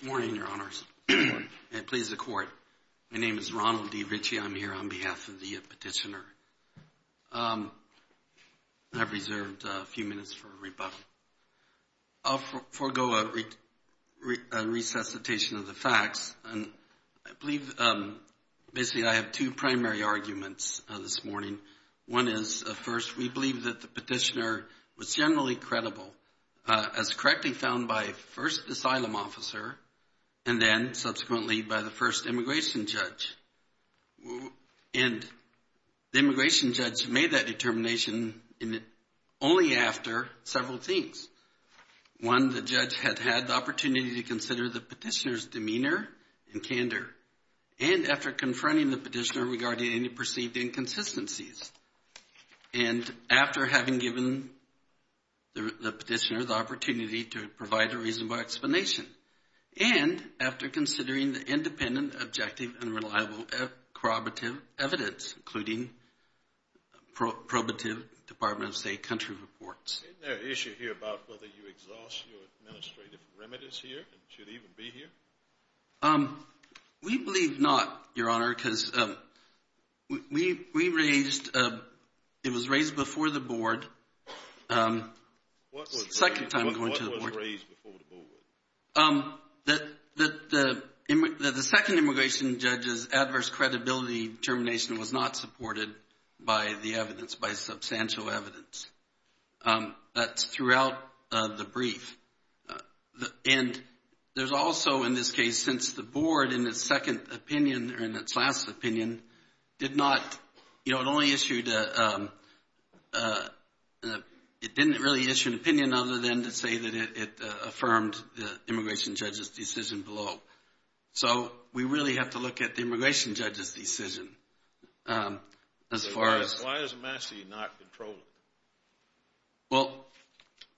Good morning, Your Honors, and please accord. My name is Ronald D. Ritchie. I'm here on behalf of the petitioner. I've reserved a few minutes for rebuttal. I'll forgo a resuscitation of the facts. I believe basically I have two primary arguments this morning. One is, first, we believe that the petitioner was generally credible, as correctly found by the first asylum officer and then subsequently by the first immigration judge. And the immigration judge made that determination only after several things. One, the judge had had the opportunity to consider the petitioner's demeanor and candor, and after confronting the petitioner regarding any perceived inconsistencies, and after having given the petitioner the opportunity to provide a reasonable explanation, and after considering the independent, objective, and reliable corroborative evidence, including probative Department of State country reports. Is there an issue here about whether you exhaust your administrative remedies here and should even be here? We believe not, Your Honor, because we raised, it was raised before the Board, second time going to the Board. What was raised before the Board? That the second immigration judge's adverse credibility determination was not supported by the evidence, by substantial evidence. That's throughout the brief. And there's also, in this case, since the Board, in its second opinion, or in its last opinion, did not, you know, it only issued a, it didn't really issue an opinion other than to say that it affirmed the immigration judge's decision below. So we really have to look at the immigration judge's decision as far as. Why is Massey not controlling? Well,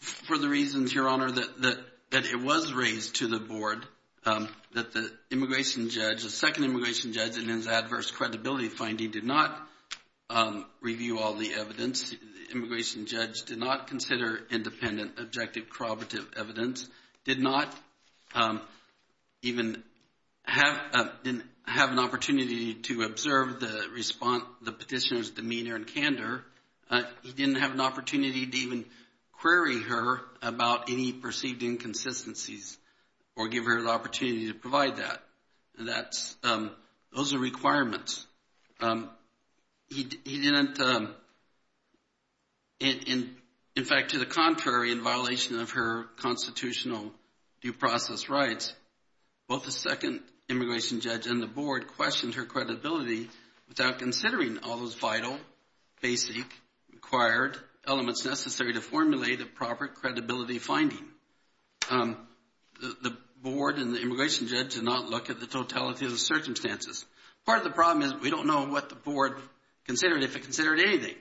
for the reasons, Your Honor, that it was raised to the Board that the immigration judge, the second immigration judge, in his adverse credibility finding did not review all the evidence. The immigration judge did not consider independent, objective, corroborative evidence, did not even have an opportunity to observe the respond, the petitioner's demeanor and candor. He didn't have an opportunity to even query her about any perceived inconsistencies or give her the opportunity to provide that. That's, those are requirements. He didn't, in fact, to the contrary, in violation of her constitutional due process rights, both the second immigration judge and the Board questioned her credibility without considering all those vital, basic, required elements necessary to formulate a proper credibility finding. The Board and the immigration judge did not look at the totality of the circumstances. Part of the problem is we don't know what the Board considered, if it considered anything,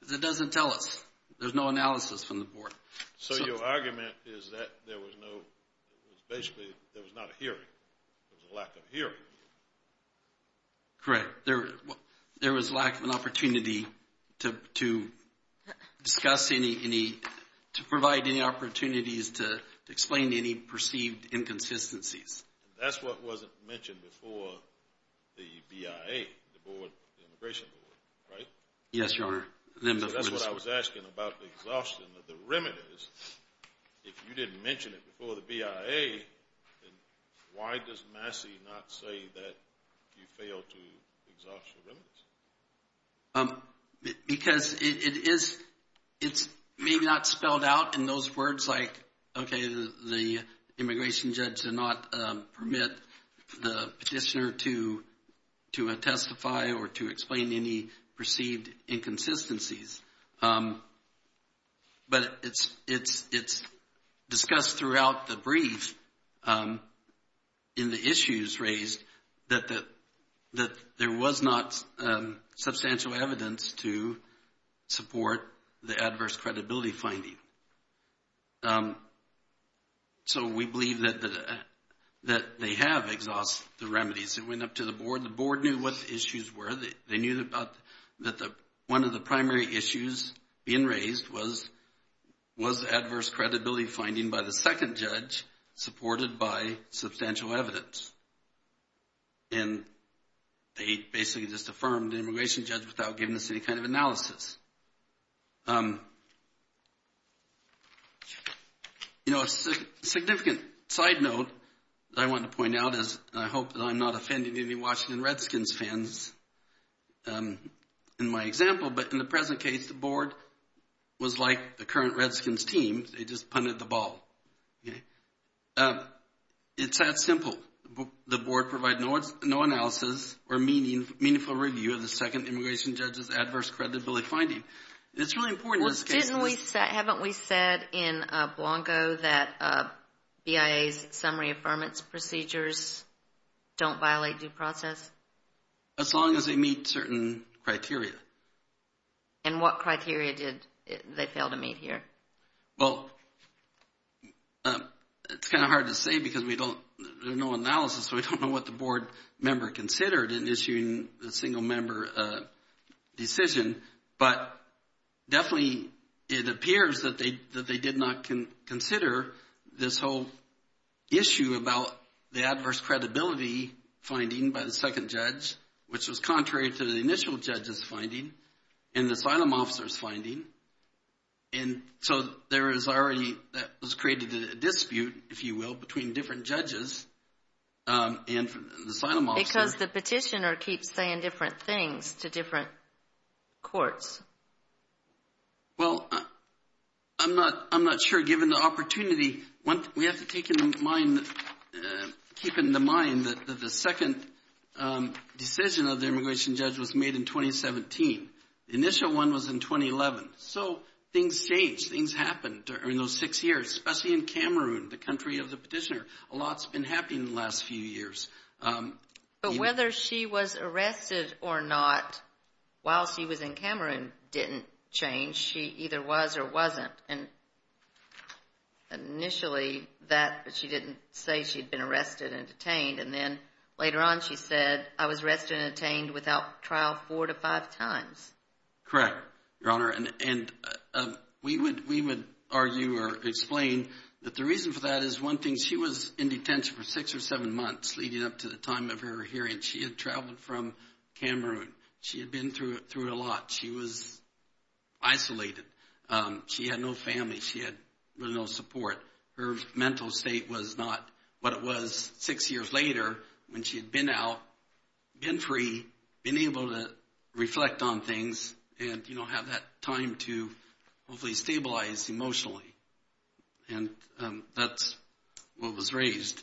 because it doesn't tell us. There's no analysis from the Board. So your argument is that there was no, it was basically, there was not a hearing. There was a lack of hearing. Correct. There was lack of an opportunity to discuss any, to provide any opportunities to explain any perceived inconsistencies. That's what wasn't mentioned before the BIA, the Board, the Immigration Board, right? Yes, Your Honor. So that's what I was asking about the exhaustion of remedies. If you didn't mention it before the BIA, then why does Massey not say that you failed to exhaust the remedies? Because it is, it's maybe not spelled out in those words like, okay, the immigration judge did not permit the petitioner to testify or to explain any perceived inconsistencies. But it's discussed throughout the brief in the issues raised that there was not substantial evidence to support the adverse credibility finding. So we believe that they have exhausted the remedies. It went up to the Board. The Board knew what the issues were. They knew that one of the primary issues being raised was was adverse credibility finding by the second judge supported by substantial evidence. And they basically just affirmed the immigration judge without giving us any kind of analysis. You know, a significant side note that I wanted to point out is, and I hope that I'm not offending any Washington Redskins fans in my example, but in the present case, the Board was like the current Redskins team. They just punted the ball. It's that simple. The Board provided no analysis or meaningful review of the second immigration judge's adverse credibility finding. It's really important in this case. Haven't we said in Blanco that BIA's summary affirmance procedures don't violate due process? As long as they meet certain criteria. And what criteria did they fail to meet here? Well, it's kind of hard to say because we don't, there's no analysis, so we don't know what the Board member considered in issuing the single issue about the adverse credibility finding by the second judge, which was contrary to the initial judge's finding and the asylum officer's finding. And so there is already, that was created a dispute, if you will, between different judges and the asylum officer. Because the petitioner keeps saying different things to different people. Keeping in mind that the second decision of the immigration judge was made in 2017. The initial one was in 2011. So things changed. Things happened during those six years, especially in Cameroon, the country of the petitioner. A lot's been happening in the last few years. But whether she was arrested or not while she was in Cameroon didn't change. She either was or wasn't. And initially, she didn't say she'd been arrested and detained. And then later on she said, I was arrested and detained without trial four to five times. Correct, Your Honor. And we would argue or explain that the reason for that is one thing, she was in detention for six or seven months leading up to the time of her hearing. She had from Cameroon. She had been through a lot. She was isolated. She had no family. She had really no support. Her mental state was not what it was six years later when she had been out, been free, been able to reflect on things and have that time to hopefully stabilize emotionally. And that's what was raised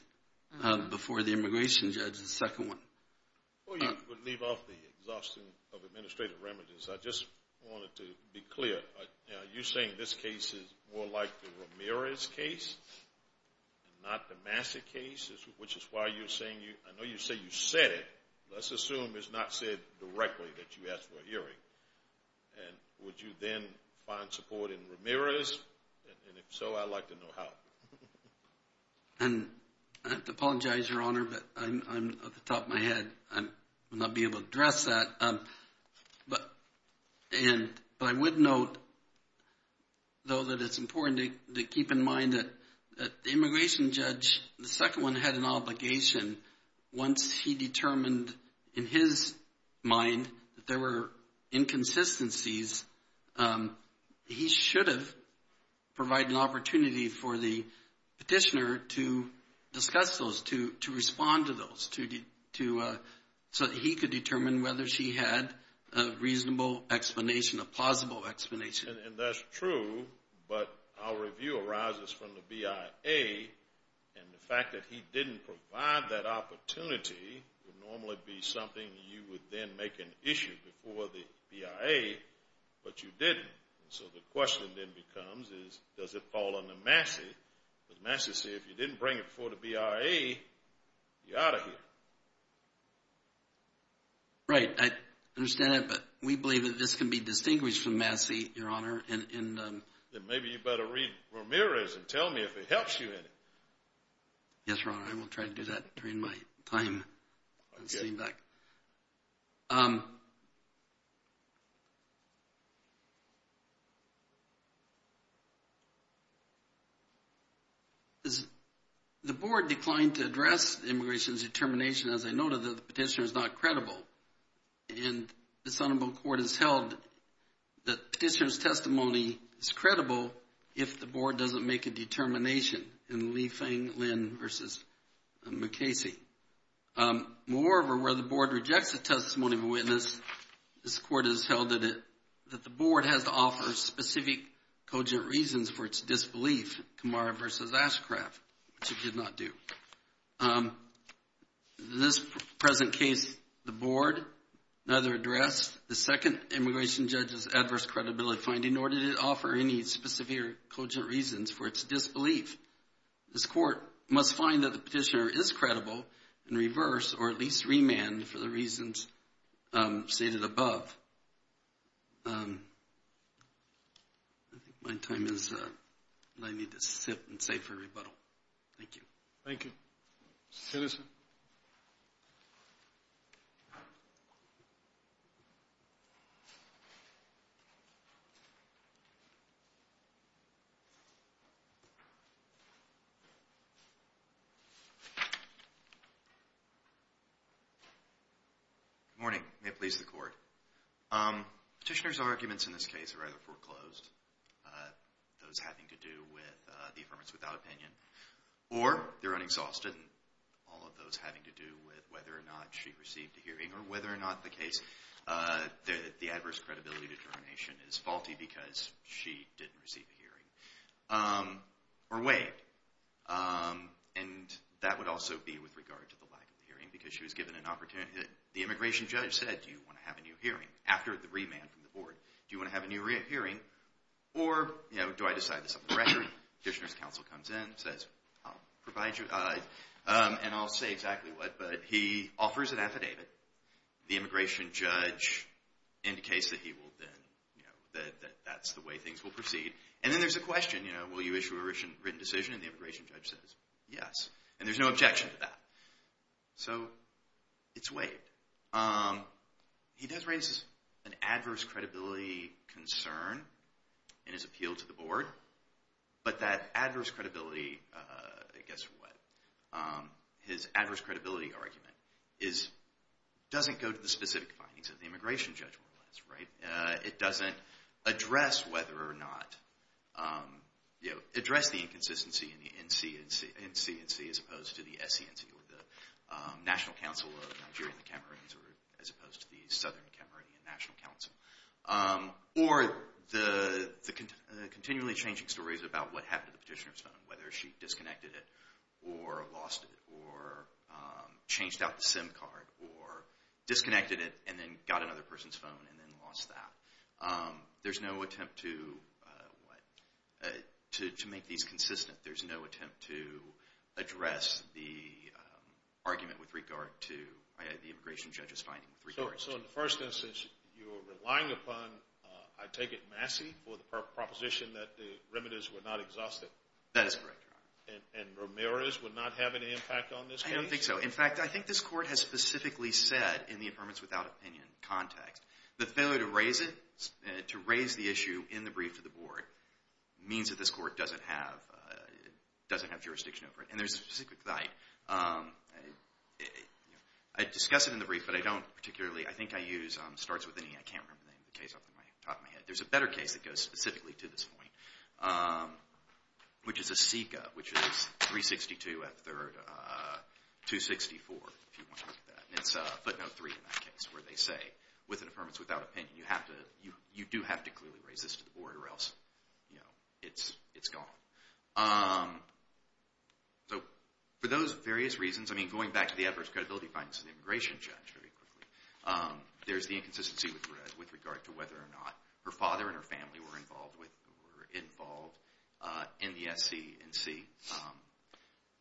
before the immigration judge, the second one. Before you leave off the exhaustion of administrative remedies, I just wanted to be clear. You're saying this case is more like the Ramirez case and not the Massa case, which is why you're saying you, I know you say you said it. Let's assume it's not said directly that you asked for a hearing. And would you then find support in Ramirez? And if so, I'd like to know how. And I have to apologize, Your Honor, but I'm at the top of my head. I will not be able to address that. But I would note, though, that it's important to keep in mind that the immigration judge, the second one, had an obligation. Once he determined in his mind that there were to discuss those, to respond to those, so that he could determine whether she had a reasonable explanation, a plausible explanation. And that's true. But our review arises from the BIA. And the fact that he didn't provide that opportunity would normally be something you would then make an issue before the BIA. But you didn't. So the question then becomes is, does it fall under Massey? Because Massey said if you didn't bring it before the BIA, you're out of here. Right. I understand that. But we believe that this can be distinguished from Massey, Your Honor. Then maybe you better read Ramirez and tell me if it helps you in it. Yes, Your Honor. I will try to do that during my time sitting back. The board declined to address immigration's determination. As I noted, the petitioner is not credible. And this honorable court has held that petitioner's testimony is credible if the board doesn't make a determination in Li Feng Lin versus Mukasey. Moreover, where the board rejects the testimony of a witness, this court has held that the board has to offer specific cogent reasons for its disbelief, Kamara versus Ashcraft, which it did not do. In this present case, the board neither addressed the second immigration judge's adverse credibility finding nor did it offer any specific cogent reasons for its disbelief. This court must find that the petitioner is credible and reverse or at least remand for the reasons stated above. I think my time is up. I need to sit and say for rebuttal. Thank you. Thank you. Citizen. Good morning. May it please the court. Petitioner's arguments in this case are either foreclosed, uh, those having to do with, uh, the affirmance without opinion or they're unexhausted. All of those having to do with whether or not she received a hearing or whether or not the case, uh, the, the adverse credibility determination is faulty because she didn't receive a hearing, um, or wait. Um, and that would also be with regard to the lack of hearing because she was given an opportunity that the immigration judge said, do you want to have a new hearing after the remand from the board? Do you want to have a new hearing? Or, you know, do I decide this up the record? Petitioner's counsel comes in and says, I'll provide you, uh, um, and I'll say exactly what, but he offers an affidavit. The immigration judge indicates that he will then, you know, that, that that's the way things will proceed. And then there's a question, you know, will you issue a written written decision? And the immigration judge says, yes. And there's no objection to that. So it's waived. Um, he does raise an adverse credibility concern in his appeal to the board, but that adverse credibility, uh, guess what? Um, his adverse credibility argument is, doesn't go to the specific findings of the immigration judge, more or less, right? Uh, it doesn't address whether or not, um, you know, address the NCNC as opposed to the SCNC or the, um, National Council of Nigerian Cameroons or as opposed to the Southern Cameroonian National Council. Um, or the, the continually changing stories about what happened to the petitioner's phone, whether she disconnected it or lost it or, um, changed out the SIM card or disconnected it and then got another person's phone and then lost that. Um, there's no attempt to, uh, what, uh, to, to make these consistent. There's no attempt to address the, um, argument with regard to the immigration judge's findings. So in the first instance, you're relying upon, uh, I take it Massey for the proposition that the remedies were not exhausted. That is correct, Your Honor. And, and Ramirez would not have any impact on this case? I don't think so. In fact, I think this court has specifically said in the impermanence without opinion context, the failure to raise it, to raise the issue in the brief to the board means that this court doesn't have, uh, doesn't have jurisdiction over it. And there's a specific site. Um, I discuss it in the brief, but I don't particularly, I think I use, um, starts with an E. I can't remember the name of the case off the top of my head. There's a better case that goes specifically to this point, um, which is a SICA, which is 362 F 3rd, uh, 264, if you want to look with impermanence without opinion, you have to, you, you do have to clearly raise this to the board or else, you know, it's, it's gone. Um, so for those various reasons, I mean, going back to the adverse credibility findings of the immigration judge, very quickly, um, there's the inconsistency with regard to whether or not her father and her family were involved with, were involved, uh, in the SC and C. Um,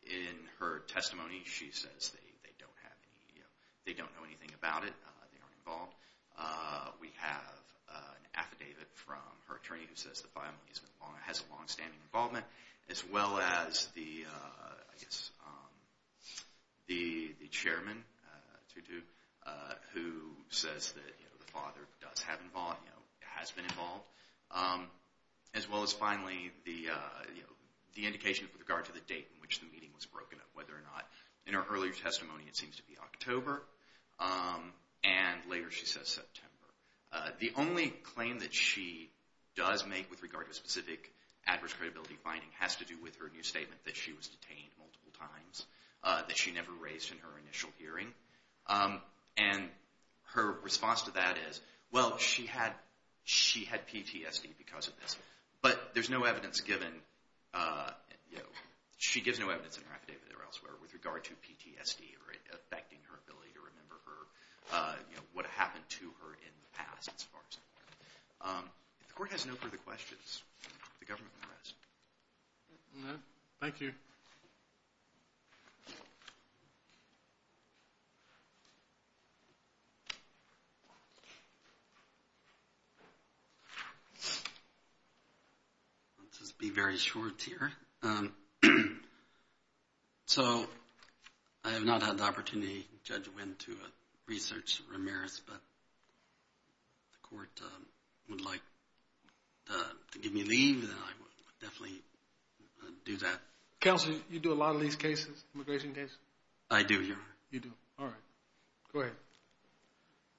in her testimony, she says they, they don't have any, you know, they don't know anything about it. Uh, they aren't involved. Uh, we have, uh, an affidavit from her attorney who says the family has been long, has a longstanding involvement as well as the, uh, I guess, um, the, the chairman, uh, to do, uh, who says that, you know, the father does have involved, you know, has been involved. Um, as well as finally the, uh, you know, the indication with regard to the date in which the meeting was broken up, in her earlier testimony, it seems to be October. Um, and later she says September. Uh, the only claim that she does make with regard to a specific adverse credibility finding has to do with her new statement that she was detained multiple times, uh, that she never raised in her initial hearing. Um, and her response to that is, well, she had, she had PTSD because of this, but there's no evidence given, uh, you know, she gives no evidence in her affidavit or elsewhere with regard to PTSD or it affecting her ability to remember her, uh, you know, what happened to her in the past as far as I'm aware. Um, if the court has no further questions, the government has. Thank you. Let's just be very short here. Um, so I have not had the opportunity, Judge Wynn, to, uh, definitely do that. Counselor, you do a lot of these cases, immigration cases? I do, yeah. You do. All right. Go ahead.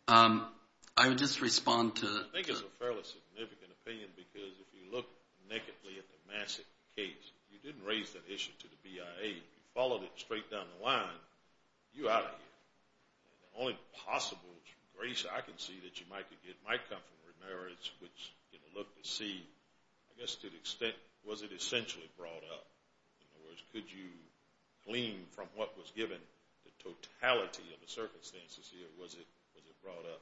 Um, I would just respond to... I think it's a fairly significant opinion because if you look nakedly at the massive case, you didn't raise that issue to the BIA. You followed it straight down the line. You out of here. The only possible grace I can see that might come from remerits, which, you know, look to see, I guess, to the extent, was it essentially brought up? In other words, could you glean from what was given the totality of the circumstances here? Was it, was it brought up?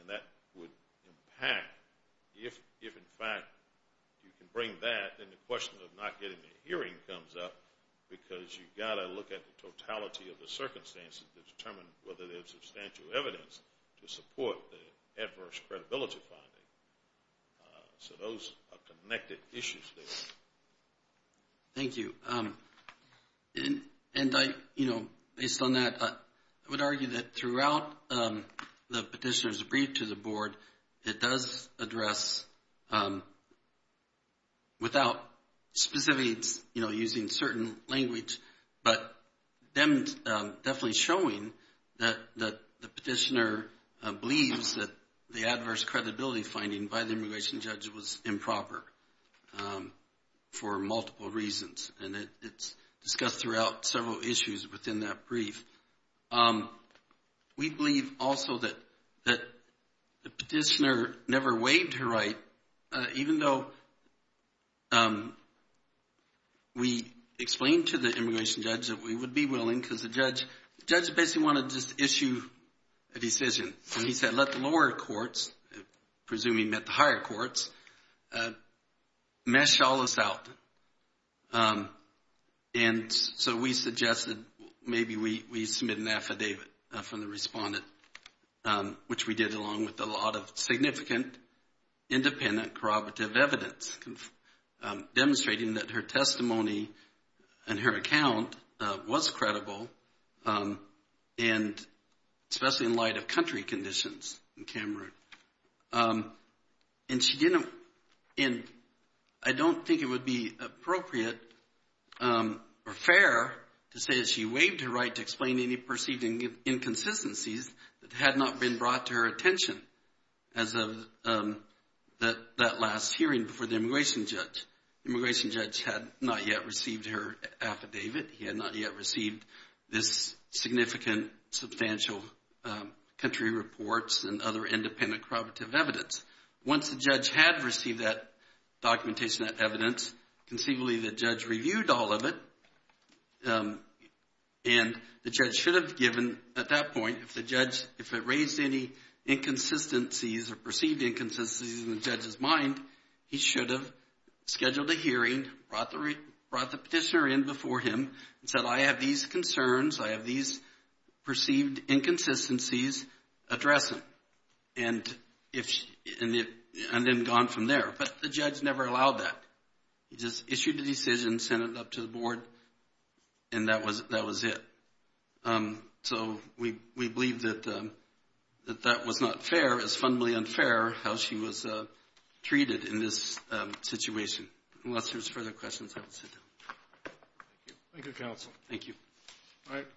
And that would impact if, if in fact you can bring that, then the question of not getting a hearing comes up because you've got to look at the totality of adverse credibility finding. Uh, so those are connected issues there. Thank you. Um, and, and I, you know, based on that, I would argue that throughout, um, the petitioner's brief to the board, it does address, um, without specific, you know, using certain language, but them, um, definitely showing that, that the petitioner, uh, believes that the adverse credibility finding by the immigration judge was improper, um, for multiple reasons. And it's discussed throughout several issues within that brief. Um, we believe also that, that the petitioner never waived her right, uh, even though, um, we explained to the immigration judge that we would be willing because the judge, the judge basically wanted to just issue a decision. And he said, let the lower courts, presuming that the higher courts, uh, mesh all this out. Um, and so we suggested maybe we, we submit an affidavit from the respondent, um, which we did along with a lot of significant independent corroborative evidence, demonstrating that her testimony and her account, uh, was credible, um, and especially in light of country conditions in Cameroon. Um, and she didn't, and I don't think it would be appropriate, um, or fair to say that she waived her right to explain any perceived inconsistencies that had not been brought to her attention as of, um, that, that last hearing before the immigration judge. Immigration judge had not yet received her affidavit. He had not yet received this significant substantial, um, country reports and other independent corroborative evidence. Once the judge had received that documentation, that evidence, conceivably the judge reviewed all of it, um, and the judge should have given at that point, if the judge, if it raised any inconsistencies or perceived inconsistencies in the judge's mind, he should have scheduled a hearing, brought the, brought the petitioner in before him and said, I have these concerns, I have these perceived inconsistencies, address them. And if, and if, and then gone from there. But the judge never allowed that. He just issued the decision, sent it up to the board, and that was, that was it. Um, so we, we believe that, um, that that was not fair, as fundamentally unfair, how she was, uh, treated in this, um, situation. Unless there's further questions, I will sit down. Thank you. Thank you, counsel. Thank you. All right.